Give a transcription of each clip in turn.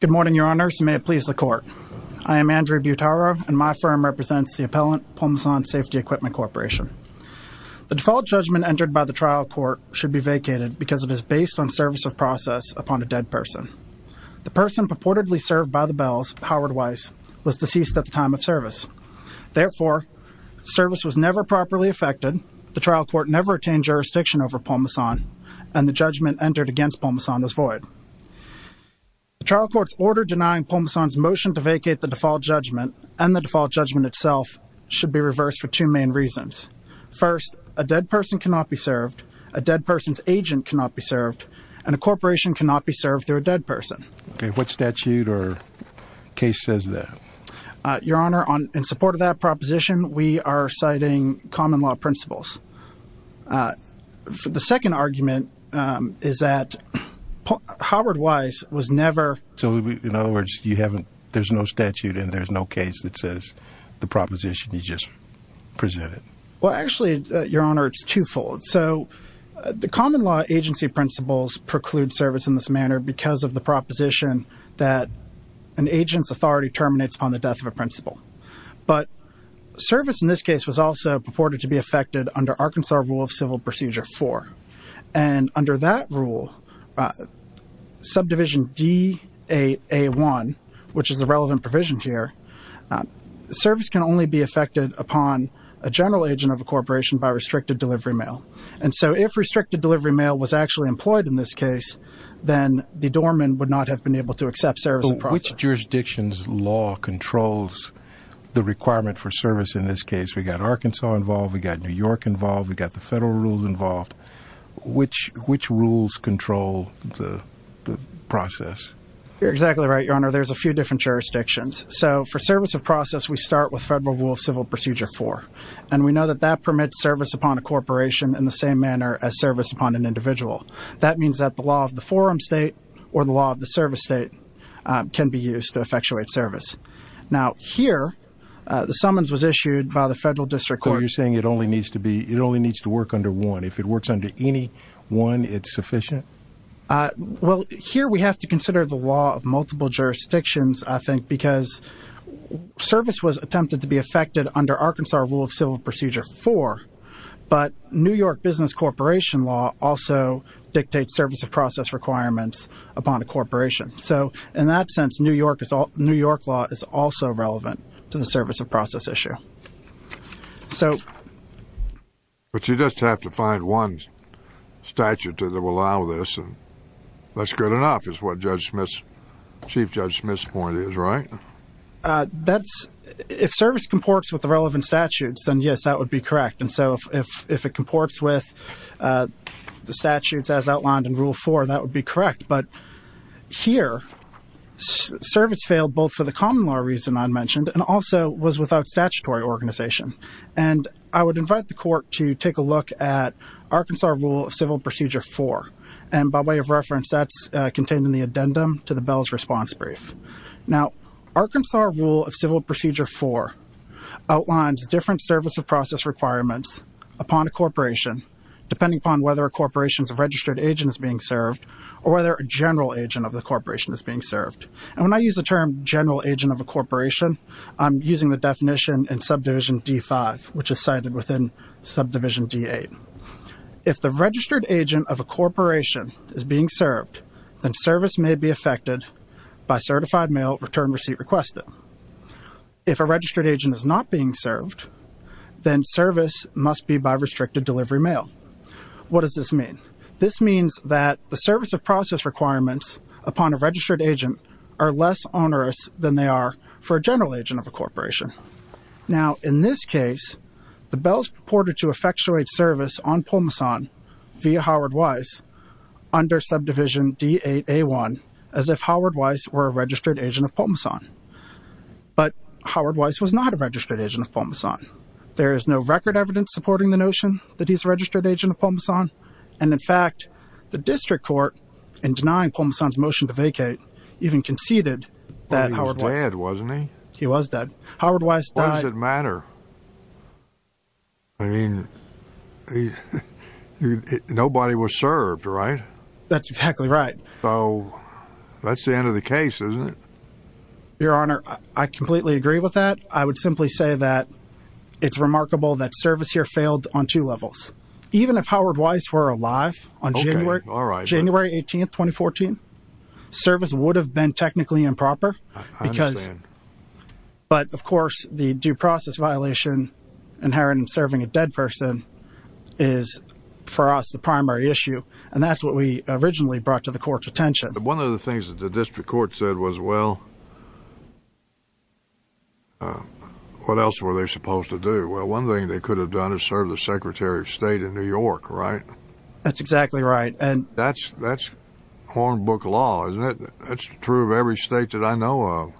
Good morning, your honors, and may it please the court. I am Andrew Butaro, and my firm represents the appellant, Pulmosan Safety Equipment Corporation. The default judgment entered by the trial court should be vacated because it is based on service of process upon a dead person. The person purportedly served by the Bells, Howard Weiss, was deceased at the time of service. Therefore, service was never properly effected, the trial court never attained jurisdiction over Pulmosan, and the judgment entered against Pulmosan was void. The trial court's order denying Pulmosan's motion to vacate the default judgment and the default judgment itself should be reversed for two main reasons. First, a dead person cannot be served, a dead person's agent cannot be served, and a corporation cannot be served through a dead person. Okay, what statute or case says that? Your honor, in support of that proposition, we are citing common law principles. The second argument is that Howard Weiss was never... So, in other words, you haven't, there's no statute and there's no case that says the proposition you just presented. Well, actually, your honor, it's twofold. So, the common law agency principles preclude service in this manner because of the proposition that an agent's authority terminates upon the death of a principal. But service in this case was also purported to be effected under Arkansas Rule of Civil Procedure 4. And under that rule, subdivision DA1, which is a relevant provision here, service can only be effected upon a general agent of a corporation by restricted delivery mail, was actually employed in this case, then the doorman would not have been able to accept service in the process. But which jurisdiction's law controls the requirement for service in this case? We've got Arkansas involved, we've got New York involved, we've got the federal rules involved. Which rules control the process? You're exactly right, your honor. There's a few different jurisdictions. So, for service of process, we start with Federal Rule of Civil Procedure 4. And we know that that permits service upon a corporation in the same manner as service upon an individual. That means that the law of the forum state or the law of the service state can be used to effectuate service. Now, here, the summons was issued by the federal district court. So, you're saying it only needs to be, it only needs to work under one. If it works under any one, it's sufficient? Well, here we have to consider the law of multiple jurisdictions, I think, because service was attempted to be effected under Arkansas Rule of Civil Procedure 4. But New York business corporation law also dictates service of process requirements upon a corporation. So, in that sense, New York law is also relevant to the service of process issue. But you just have to find one statute that will allow this, and that's good enough, is what Chief Judge Smith's point is, right? That's, if service comports with the relevant statutes, then yes, that would be correct. And so, if it comports with the statutes as outlined in Rule 4, that would be correct. But here, service failed both for the common law reason I mentioned, and also was without statutory organization. And I would invite the court to take a look at Arkansas Rule of Civil Procedure 4. And by way of reference, that's contained in the addendum to the Bell's Arkansas Rule of Civil Procedure 4 outlines different service of process requirements upon a corporation, depending upon whether a corporation's registered agent is being served, or whether a general agent of the corporation is being served. And when I use the term general agent of a corporation, I'm using the definition in Subdivision D-5, which is cited within Subdivision D-8. If the registered agent of a corporation is being served, then service may be affected by certified mail return receipt requested. If a registered agent is not being served, then service must be by restricted delivery mail. What does this mean? This means that the service of process requirements upon a registered agent are less onerous than they are for a general agent of a corporation. Now, in this case, the Bell's purported to effectuate service on Pulmoson via Howard Weiss under Subdivision D-8A1, as if Howard Weiss were a registered agent of Pulmoson. But Howard Weiss was not a registered agent of Pulmoson. There is no record evidence supporting the notion that he's a registered agent of Pulmoson. And in fact, the district court, in denying Pulmoson's motion to vacate, even conceded that Howard Weiss... He was dead, wasn't he? He was dead. Howard Weiss died... I mean, nobody was served, right? That's exactly right. So that's the end of the case, isn't it? Your Honor, I completely agree with that. I would simply say that it's remarkable that service here failed on two levels. Even if Howard Weiss were alive on January 18th, 2014, service would have been technically improper. I understand. But of course, the due process violation inherent in serving a dead person is, for us, the primary issue. And that's what we originally brought to the court's attention. One of the things that the district court said was, well, what else were they supposed to do? Well, one thing they could have done is serve the Secretary of State in New York, right? That's exactly right. That's hornbook law, isn't it? That's true of every state that I know of.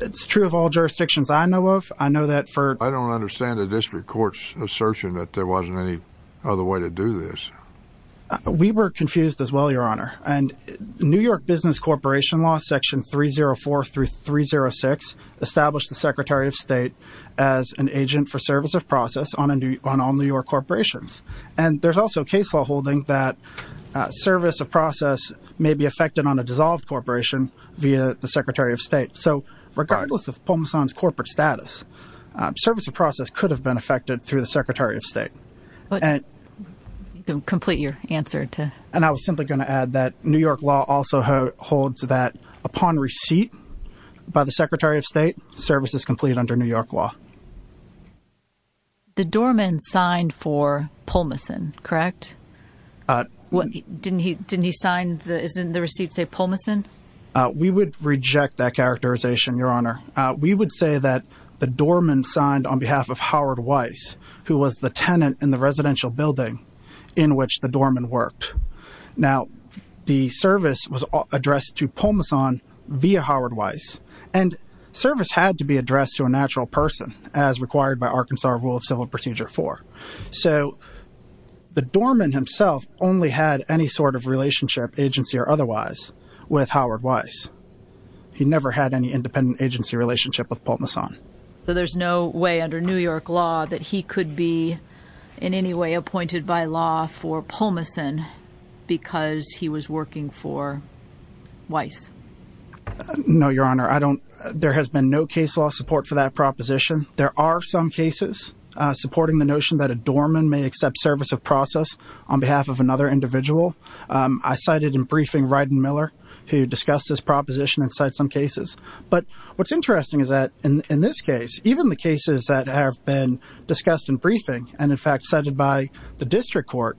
It's true of all jurisdictions I know of. I know that for... I don't understand the district court's assertion that there wasn't any other way to do this. We were confused as well, Your Honor. And New York Business Corporation Law, Section 304 through 306, established the Secretary of State as an agent for service of process on all New York corporations. And there's also case law holding that service of process may be affected on a dissolved corporation via the Secretary of State. So regardless of Pomosan's corporate status, service of process could have been affected through the Secretary of State. But you can complete your answer to... And I was simply going to add that New York law also holds that upon receipt by the Secretary of State, service is complete under New York law. The doorman signed for Pomosan, correct? Didn't he sign the... Isn't the receipt say Pomosan? We would reject that characterization, Your Honor. We would say that the doorman signed on behalf of Howard Weiss, who was the tenant in the residential building in which the doorman worked. Now, the service was addressed to Pomosan via Howard Weiss, and service had to be addressed to a natural person. As required by Arkansas rule of civil procedure four. So the doorman himself only had any sort of relationship, agency or otherwise, with Howard Weiss. He never had any independent agency relationship with Pomosan. So there's no way under New York law that he could be in any way appointed by law for Pomosan because he was working for Weiss? No, Your Honor. I don't... There has been no case law support for that proposition. There are some cases supporting the notion that a doorman may accept service of process on behalf of another individual. I cited in briefing Ryden Miller, who discussed this proposition inside some cases. But what's interesting is that in this case, even the cases that have been discussed in briefing and in fact cited by the district court,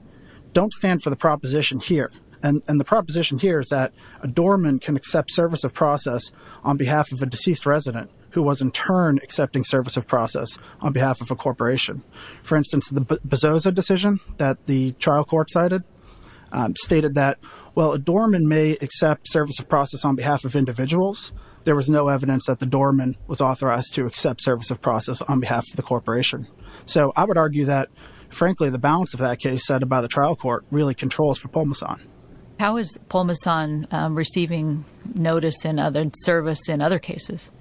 don't stand for the proposition here. And the proposition here is that a doorman can accept service of process on behalf of a corporation. For instance, the Bozoza decision that the trial court cited stated that, well, a doorman may accept service of process on behalf of individuals. There was no evidence that the doorman was authorized to accept service of process on behalf of the corporation. So I would argue that, frankly, the balance of that case set by the trial court really controls for Pomosan. How is Pomosan receiving notice and other service in other cases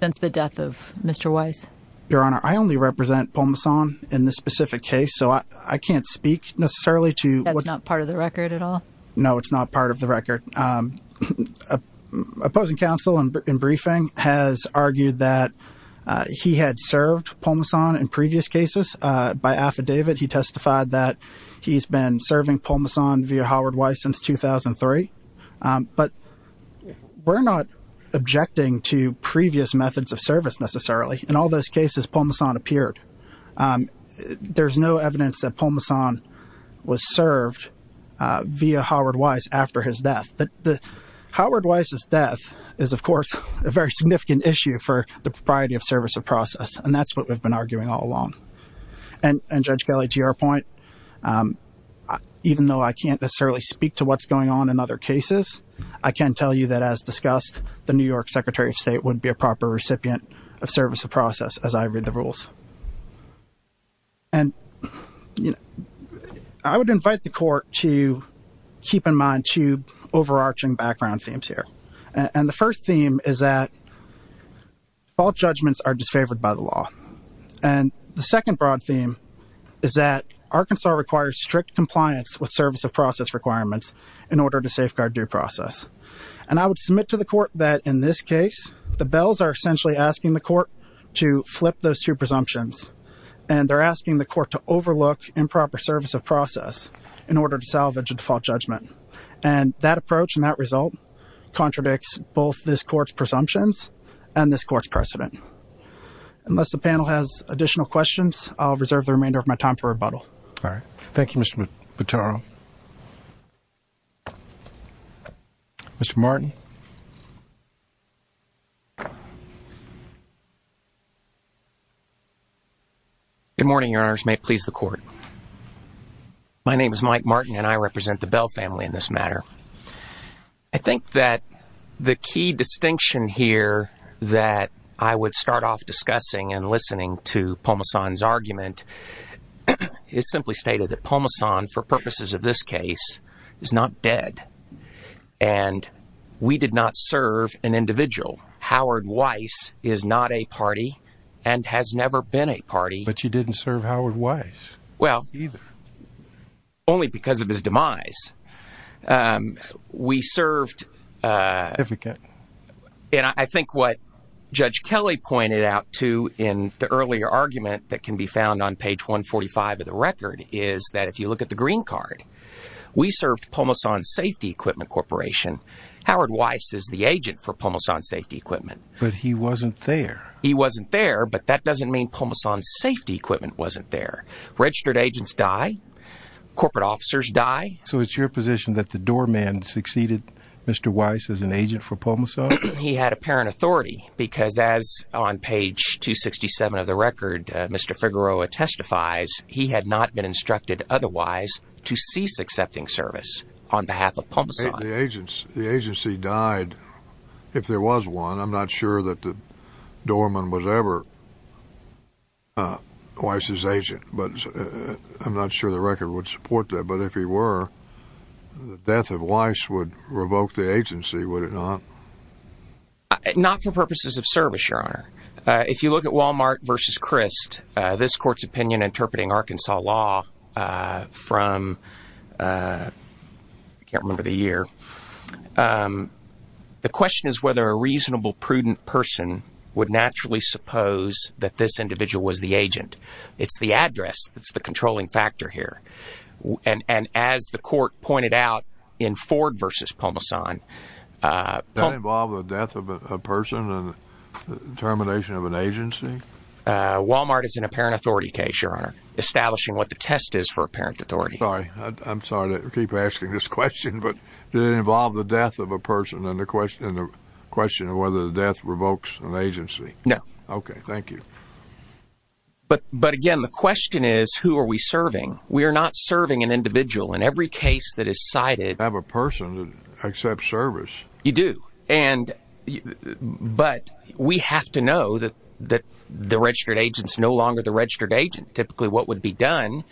since the death of Mr. Weiss? Your Honor, I only represent Pomosan in this specific case, so I can't speak necessarily to what's not part of the record at all. No, it's not part of the record. Opposing counsel in briefing has argued that he had served Pomosan in previous cases by affidavit. He testified that he's been serving Pomosan via Howard Weiss since 2003. But we're not objecting to previous methods of service necessarily. In all those cases, Pomosan appeared. There's no evidence that Pomosan was served via Howard Weiss after his death. But Howard Weiss's death is, of course, a very significant issue for the propriety of service of process, and that's what we've been arguing all along. And Judge Kelly, to your point, even though I can't necessarily speak to what's going on in other cases, I can tell you that as discussed, the New York Secretary of State would be a proper recipient of service of process as I read the rules. And I would invite the court to keep in mind two overarching background themes here. And the first theme is that all judgments are disfavored by the law. And the second broad theme is that Arkansas requires strict compliance with service of safeguard due process. And I would submit to the court that in this case, the bells are essentially asking the court to flip those two presumptions. And they're asking the court to overlook improper service of process in order to salvage a default judgment. And that approach and that result contradicts both this court's presumptions and this court's precedent. Unless the panel has additional questions, I'll reserve the remainder of my time for rebuttal. All right. Thank you, Mr. Buttaro. Mr. Martin. Good morning, your honors, may it please the court. My name is Mike Martin and I represent the Bell family in this matter. I think that the key distinction here that I would start off discussing and listening to Pomasan's argument is simply stated that Pomasan, for purposes of this case, is not dead. And we did not serve an individual. Howard Weiss is not a party and has never been a party. But you didn't serve Howard Weiss. Well, only because of his demise. We served. And I think what Judge Kelly pointed out to in the earlier argument that can be found on page 145 of the record is that if you look at the green card, we served Pomasan Safety Equipment Corporation. Howard Weiss is the agent for Pomasan Safety Equipment. But he wasn't there. He wasn't there. But that doesn't mean Pomasan Safety Equipment wasn't there. Registered agents die. Corporate officers die. So it's your position that the doorman succeeded Mr. Weiss as an agent for Pomasan? He had apparent authority because as on page 267 of the record, Mr. Figueroa testifies, he had not been instructed otherwise to cease accepting service on behalf of Pomasan. The agency died if there was one. I'm not sure that the doorman was ever Weiss's agent, but I'm not sure the record would support that. But if he were, the death of Weiss would revoke the agency, would it not? Not for purposes of service, Your Honor. If you look at Wal-Mart versus Crist, this court's opinion interpreting Arkansas law from I can't remember the year. The question is whether a reasonable, prudent person would naturally suppose that this individual was the agent. It's the address that's the controlling factor here. And as the court pointed out in Ford versus Pomasan. Does that involve the death of a person and the termination of an agency? Wal-Mart is an apparent authority case, Your Honor, establishing what the test is for apparent authority. Sorry. I'm sorry to keep asking this question, but did it involve the death of a person and the question of whether the death revokes an agency? No. OK, thank you. But again, the question is, who are we serving? We are not serving an individual. In every case that is cited. Have a person accept service. You do. And but we have to know that that the registered agent is no longer the registered agent. Typically, what would be done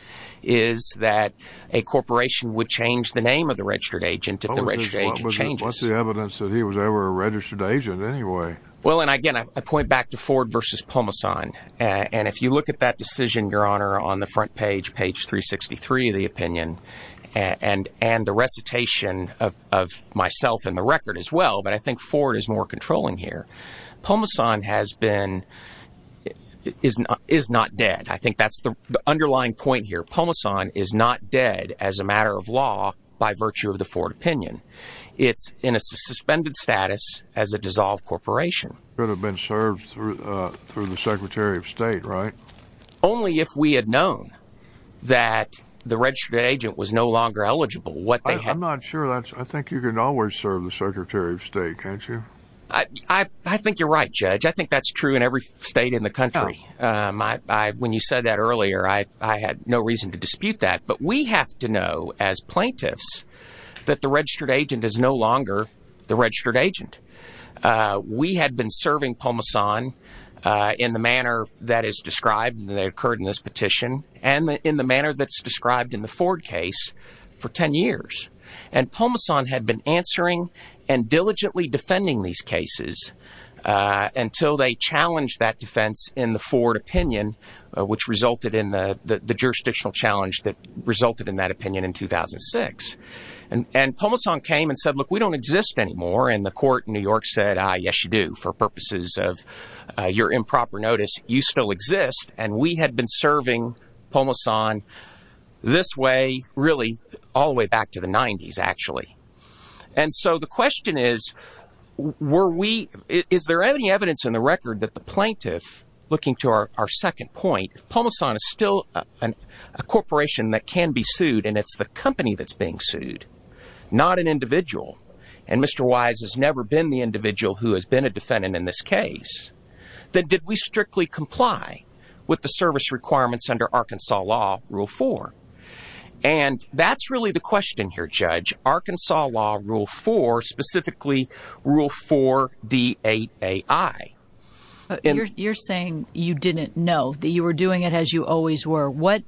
is that a corporation would change the name of the registered agent if the registered agent changes. What's the evidence that he was ever a registered agent anyway? Well, and again, I point back to Ford versus Pomasan. And if you look at that decision, Your Honor, on the front page, page 363 of the opinion and and the recitation of myself in the record as well. But I think Ford is more controlling here. Pomasan has been is is not dead. I think that's the underlying point here. Pomasan is not dead as a matter of law by virtue of the Ford opinion. It's in a suspended status as a dissolved corporation. Could have been served through through the secretary of state, right? Only if we had known that the registered agent was no longer eligible. What? I'm not sure that I think you can always serve the secretary of state, can't you? I think you're right, Judge. I think that's true in every state in the country. When you said that earlier, I had no reason to dispute that. But we have to know as plaintiffs that the registered agent is no longer the registered agent. We had been serving Pomasan in the manner that is described that occurred in this petition and in the manner that's described in the Ford case for 10 years. And Pomasan had been answering and diligently defending these cases until they challenged that defense in the Ford opinion, which resulted in the jurisdictional challenge that resulted in that opinion in 2006. And Pomasan came and said, look, we don't exist anymore. And the court in New York said, yes, you do. For purposes of your improper notice, you still exist. And we had been serving Pomasan this way, really all the way back to the 90s, actually. And so the question is, were we is there any evidence in the record that the plaintiff looking to our second point, Pomasan is still a corporation that can be sued. And it's the company that's being sued, not an individual. And Mr. Wise has never been the individual who has been a defendant in this case. That did we strictly comply with the service requirements under Arkansas law rule four? And that's really the question here, Judge. Arkansas law rule four, specifically rule four, D. Eight. A.I. You're saying you didn't know that you were doing it as you always were. What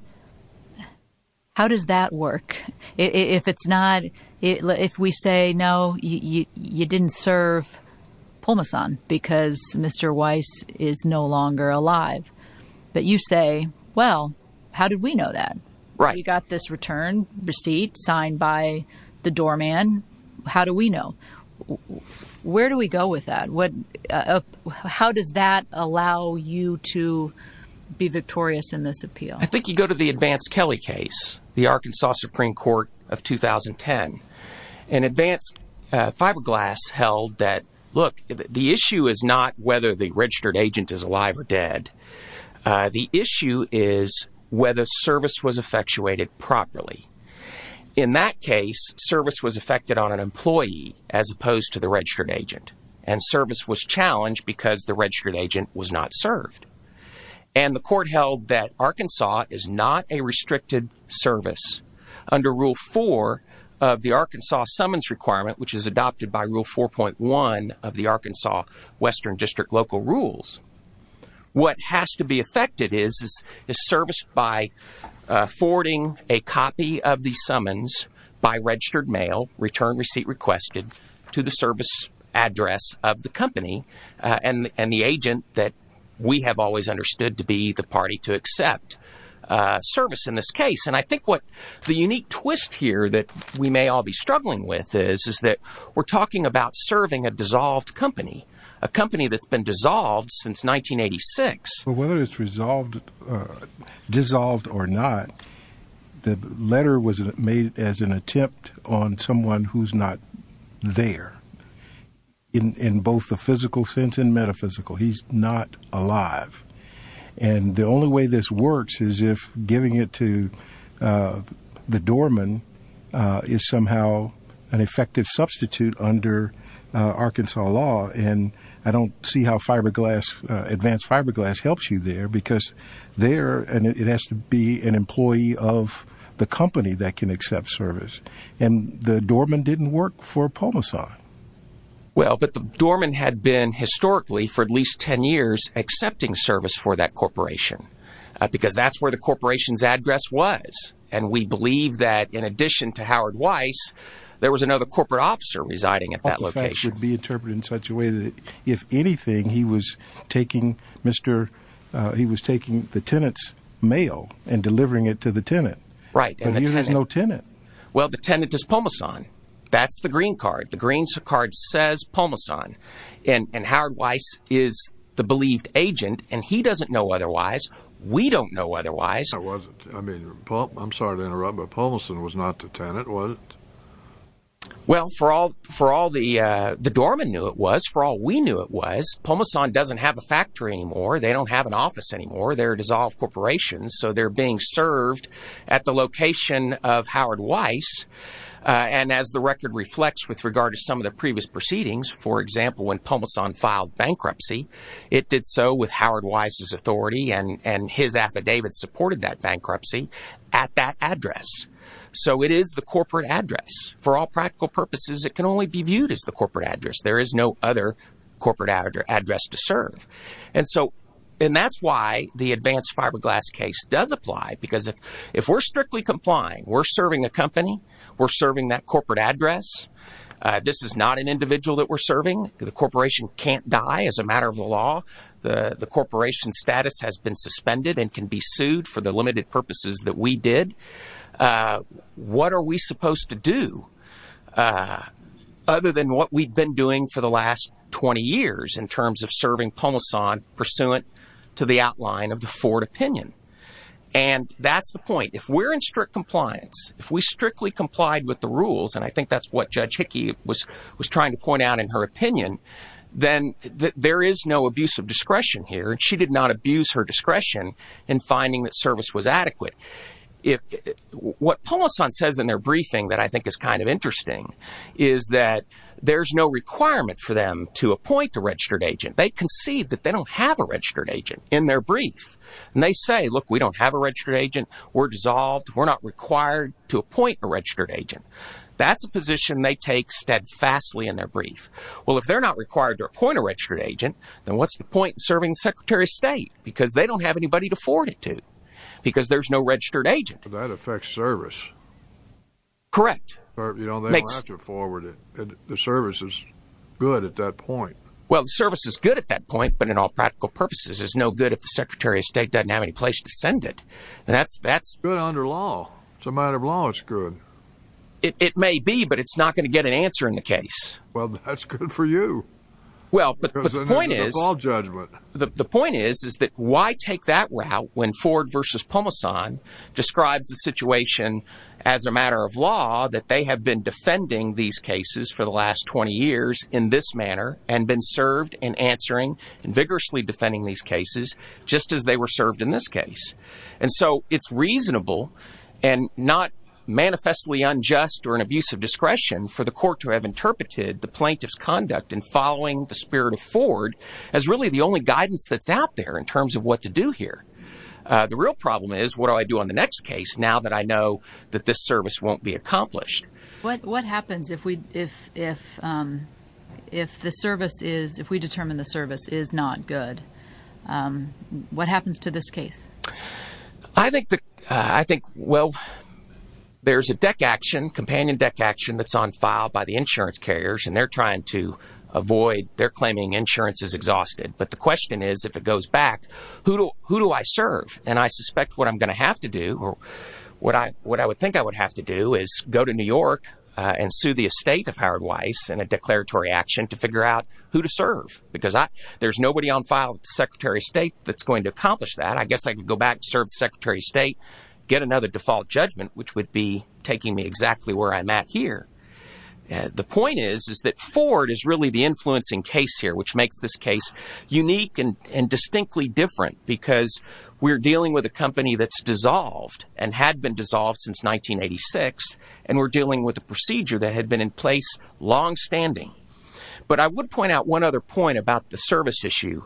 how does that work if it's not if we say, no, you didn't serve Pomasan because Mr. Wise is no longer alive. But you say, well, how did we know that? Right. You got this return receipt signed by the doorman. How do we know? Where do we go with that? What how does that allow you to be victorious in this appeal? I think you go to the advanced Kelly case, the Arkansas Supreme Court of 2010 and advanced fiberglass held that. Look, the issue is not whether the registered agent is alive or dead. The issue is whether service was effectuated properly. In that case, service was affected on an employee as opposed to the registered agent. And service was challenged because the registered agent was not served. And the court held that Arkansas is not a restricted service under rule four of the Arkansas summons requirement, which is adopted by rule four point one of the Arkansas Western District local rules. What has to be affected is is service by forwarding a copy of the summons by registered mail return receipt requested to the service address of the company and the agent that we have always understood to be the party to accept service in this case. And I think what the unique twist here that we may all be struggling with is, is that we're talking about serving a dissolved company, a company that's been dissolved since 1986. But whether it's resolved, dissolved or not, the letter was made as an attempt on someone who's not there in both the physical sense and metaphysical. He's not alive. And the only way this works is if giving it to the doorman is somehow an effective substitute under Arkansas law. And I don't see how fiberglass, advanced fiberglass helps you there because they're and it has to be an employee of the company that can accept service. And the doorman didn't work for Polisar. Well, but the doorman had been historically for at least 10 years accepting service for that corporation because that's where the corporation's address was. And we believe that in addition to Howard Weiss, there was another corporate officer residing at that location. Be interpreted in such a way that if anything, he was taking Mr. He was taking the tenants mail and delivering it to the tenant. Right. And there's no tenant. Well, the tenant is Pomasan. That's the green card. The green card says Pomasan and Howard Weiss is the believed agent. And he doesn't know otherwise. We don't know otherwise. I mean, I'm sorry to interrupt, but Pomasan was not the tenant, was it? Well, for all for all the the doorman knew it was for all we knew it was Pomasan doesn't have a factory anymore. They don't have an office anymore. They're dissolved corporations. So they're being served at the location of Howard Weiss. And as the record reflects, with regard to some of the previous proceedings, for example, when Pomasan filed bankruptcy, it did so with Howard Weiss's authority and his affidavit supported that bankruptcy at that address. So it is the corporate address. For all practical purposes, it can only be viewed as the corporate address. There is no other corporate address to serve. And so and that's why the advanced fiberglass case does apply, because if if we're strictly complying, we're serving a company, we're serving that corporate address. This is not an individual that we're serving. The corporation can't die as a matter of the law. The corporation status has been suspended and can be sued for the limited purposes that we did. What are we supposed to do other than what we've been doing for the last 20 years in terms of serving Pomasan pursuant to the outline of the Ford opinion? And that's the point. If we're in strict compliance, if we strictly complied with the rules, and I think that's what Judge Hickey was was trying to point out in her opinion, then there is no abuse of discretion here. And she did not abuse her discretion in finding that service was adequate. If what Pomasan says in their briefing that I think is kind of interesting is that there's no requirement for them to appoint a registered agent. They concede that they don't have a registered agent in their brief. And they say, look, we don't have a registered agent. We're dissolved. We're not required to appoint a registered agent. That's a position they take steadfastly in their brief. Well, if they're not required to appoint a registered agent, then what's the point serving secretary of state? Because they don't have anybody to forward it to, because there's no registered agent. That affects service. Correct. You don't have to forward it. The service is good at that point. Well, the service is good at that point, but in all practical purposes is no good if the secretary of state doesn't have any place to send it. And that's that's good under law. It's a matter of law. It's good. It may be, but it's not going to get an answer in the case. Well, that's good for you. Well, but the point is, the point is, is that why take that route when Ford versus Pomasan describes the situation as a matter of law, that they have been defending these cases for the last 20 years in this manner and been served in answering and vigorously defending these cases, just as they were served in this case. And so it's reasonable and not manifestly unjust or an abuse of discretion for the court to have interpreted the plaintiff's conduct and following the spirit of Ford as really the only guidance that's out there in terms of what to do here. The real problem is, what do I do on the next case now that I know that this service won't be accomplished? What what happens if we if if if the service is if we determine the service is not good, what happens to this case? I think the I think, well, there's a deck action, companion deck action that's on file by the insurance carriers, and they're trying to avoid their claiming insurance is exhausted. But the question is, if it goes back, who do who do I serve? And I suspect what I'm going to have to do or what I what I would think I would have to do is go to New York and sue the estate of Howard Weiss and a declaratory action to figure out who to serve. Because there's nobody on file secretary of state that's going to accomplish that. I guess I could go back, serve secretary of state, get another default judgment, which would be taking me exactly where I'm at here. The point is, is that Ford is really the influencing case here, which makes this case unique and distinctly different because we're dealing with a company that's dissolved and had been dissolved since 1986. And we're dealing with a procedure that had been in place long standing. But I would point out one other point about the service issue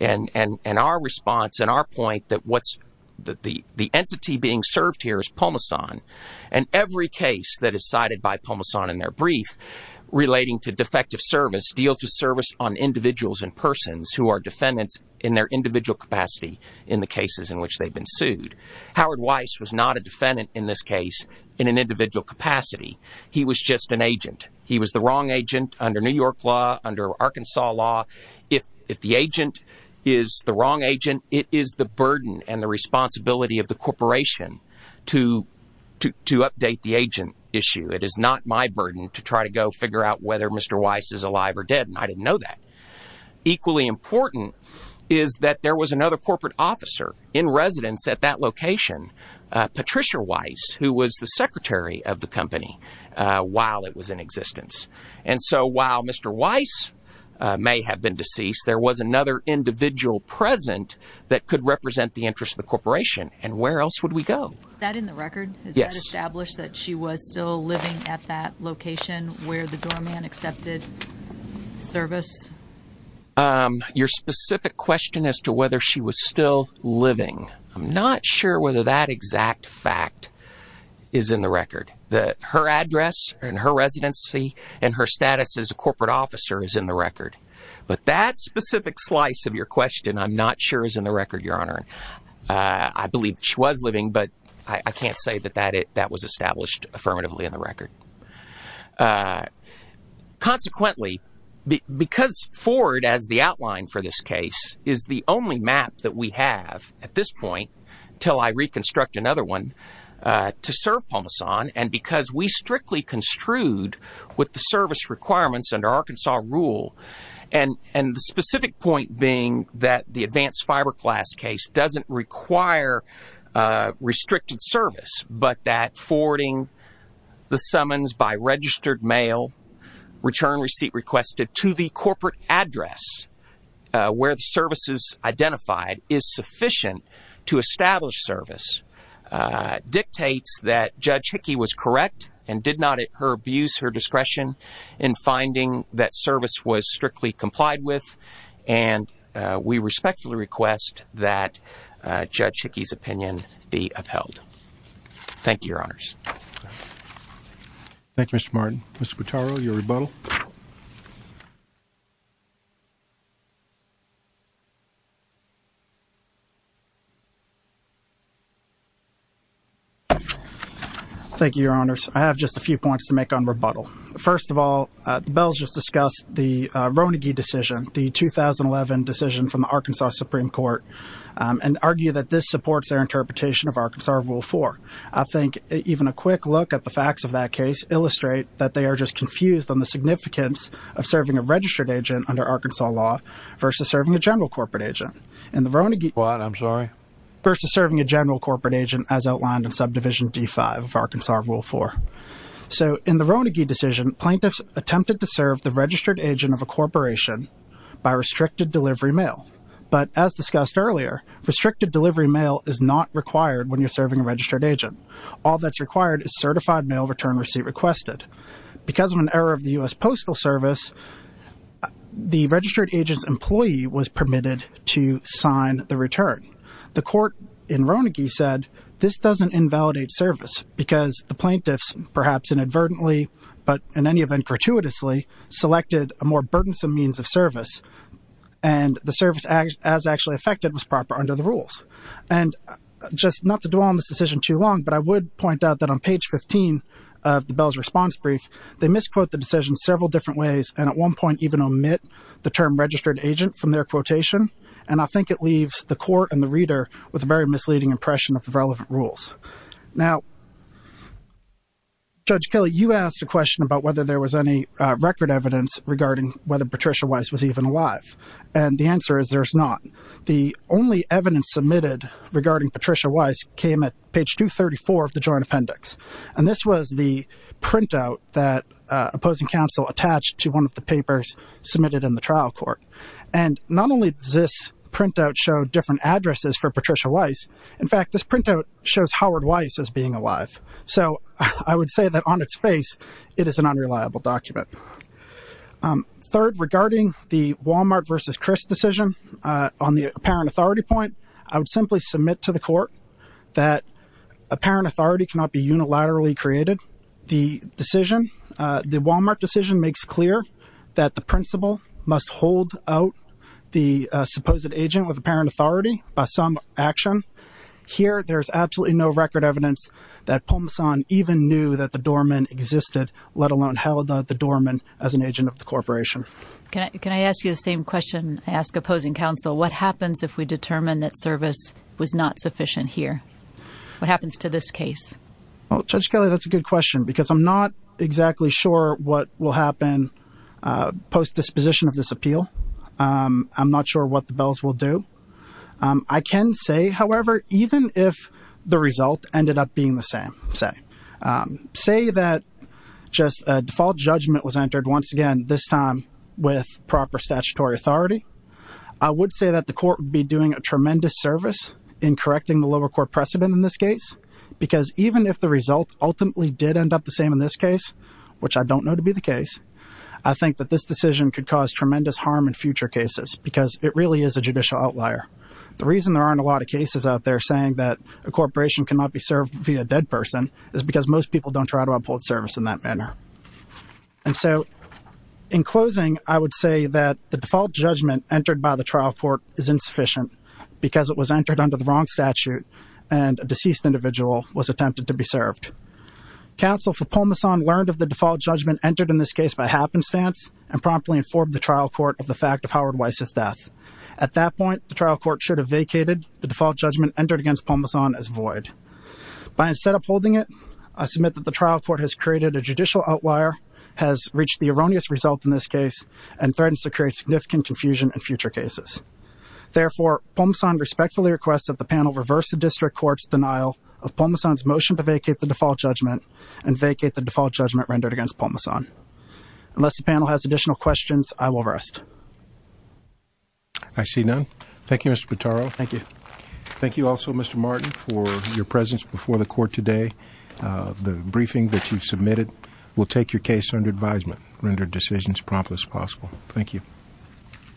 and our response and our point that what's that the the entity being served here is Pomason. And every case that is cited by Pomason in their brief relating to defective service deals with service on individuals and persons who are defendants in their individual capacity in the cases in which they've been sued. Howard Weiss was not a defendant in this case in an individual capacity. He was just an agent. He was the wrong agent under New York law, under Arkansas law. If if the agent is the wrong agent, it is the burden and the responsibility of the corporation to to to update the agent issue. It is not my burden to try to go figure out whether Mr. Weiss is alive or dead. And I didn't know that. Equally important is that there was another corporate officer in residence at that location. Patricia Weiss, who was the secretary of the company while it was in existence. And so while Mr. Weiss may have been deceased, there was another individual present that could represent the interest of the corporation. And where else would we go? That in the record established that she was still living at that location where the doorman accepted service. Your specific question as to whether she was still living. I'm not sure whether that exact fact is in the record that her address and her residency and her status as a corporate officer is in the record. But that specific slice of your question, I'm not sure, is in the record, Your Honor. I believe she was living, but I can't say that that that was established affirmatively in the record. Consequently, because Ford, as the outline for this case, is the only map that we have at this point until I reconstruct another one to serve Palmasan. And because we strictly construed with the service requirements under Arkansas rule and the specific point being that the advanced fiberglass case doesn't require restricted service. But that forwarding the summons by registered mail return receipt requested to the corporate address where the services identified is sufficient to establish service dictates that Judge Hickey was correct and did not abuse her discretion in finding that service was strictly complied with. And we respectfully request that Judge Hickey's opinion be upheld. Thank you, Your Honors. Thank you, Mr. Martin. Mr. Quattaro, your rebuttal. Thank you, Your Honors. I have just a few points to make on rebuttal. First of all, Bell's just discussed the Ronagy decision, the 2011 decision from the Arkansas Supreme Court, and argue that this supports their interpretation of Arkansas rule four. I think even a quick look at the facts of that case illustrate that they are just confused on the significance of serving a registered agent under Arkansas law versus serving a general corporate agent in the Ronagy. What? I'm sorry. Versus serving a general corporate agent, as outlined in subdivision D5 of Arkansas rule four. So in the Ronagy decision, plaintiffs attempted to serve the registered agent of a corporation by restricted delivery mail. But as discussed earlier, restricted delivery mail is not required when you're serving a registered agent. All that's required is certified mail return receipt requested. Because of an error of the U.S. Postal Service, the registered agent's employee was permitted to sign the return. The court in Ronagy said this doesn't invalidate service because the plaintiffs, perhaps inadvertently, but in any event, gratuitously selected a more burdensome means of service. And the service as actually affected was proper under the rules. And just not to dwell on this decision too long, but I would point out that on page 15 of the Bell's response brief, they misquote the decision several different ways. And at one point even omit the term registered agent from their quotation. And I think it leaves the court and the reader with a very misleading impression of the relevant rules. Now, Judge Kelly, you asked a question about whether there was any record evidence regarding whether Patricia Weiss was even alive. And the answer is there's not. The only evidence submitted regarding Patricia Weiss came at page 234 of the joint appendix. And this was the printout that opposing counsel attached to one of the papers submitted in the trial court. And not only does this printout show different addresses for Patricia Weiss, in fact, this printout shows Howard Weiss as being alive. So I would say that on its face, it is an unreliable document. Third, regarding the Walmart versus Chris decision on the apparent authority point, I would simply submit to the court that apparent authority cannot be unilaterally created. The decision, the Walmart decision makes clear that the principal must hold out the supposed agent with apparent authority by some action. Here, there's absolutely no record evidence that Pomsan even knew that the doorman existed, let alone held the doorman as an agent of the corporation. Can I ask you the same question I ask opposing counsel? What happens if we determine that service was not sufficient here? What happens to this case? Well, Judge Kelly, that's a good question, because I'm not exactly sure what will happen post disposition of this appeal. I'm not sure what the bells will do. I can say, however, even if the result ended up being the same, say, say that just a default judgment was entered once again, this time with proper statutory authority. I would say that the court would be doing a tremendous service in correcting the lower court precedent in this case, because even if the result ultimately did end up the same in this case, which I don't know to be the case, I think that this decision could cause tremendous harm in future cases, because it really is a judicial outlier. The reason there aren't a lot of cases out there saying that a corporation cannot be served via a dead person is because most people don't try to uphold service in that manner. And so in closing, I would say that the default judgment entered by the trial court is insufficient because it was entered under the wrong statute and a deceased individual was attempted to be served. Counsel for Pomsan learned of the default judgment entered in this case by happenstance and promptly informed the trial court of the fact of Howard Weiss's death. At that point, the trial court should have vacated the default judgment entered against Pomsan as void. By instead upholding it, I submit that the trial court has created a judicial outlier, has reached the erroneous result in this case, and threatens to create significant confusion in future cases. Therefore, Pomsan respectfully requests that the panel reverse the district court's denial of Pomsan's motion to vacate the default judgment and vacate the default judgment rendered against Pomsan. Unless the panel has additional questions, I will rest. I see none. Thank you, Mr. Pitaro. Thank you. Thank you also, Mr. Martin, for your presence before the court today. The briefing that you've submitted will take your case under advisement, render decisions prompt as possible. Thank you.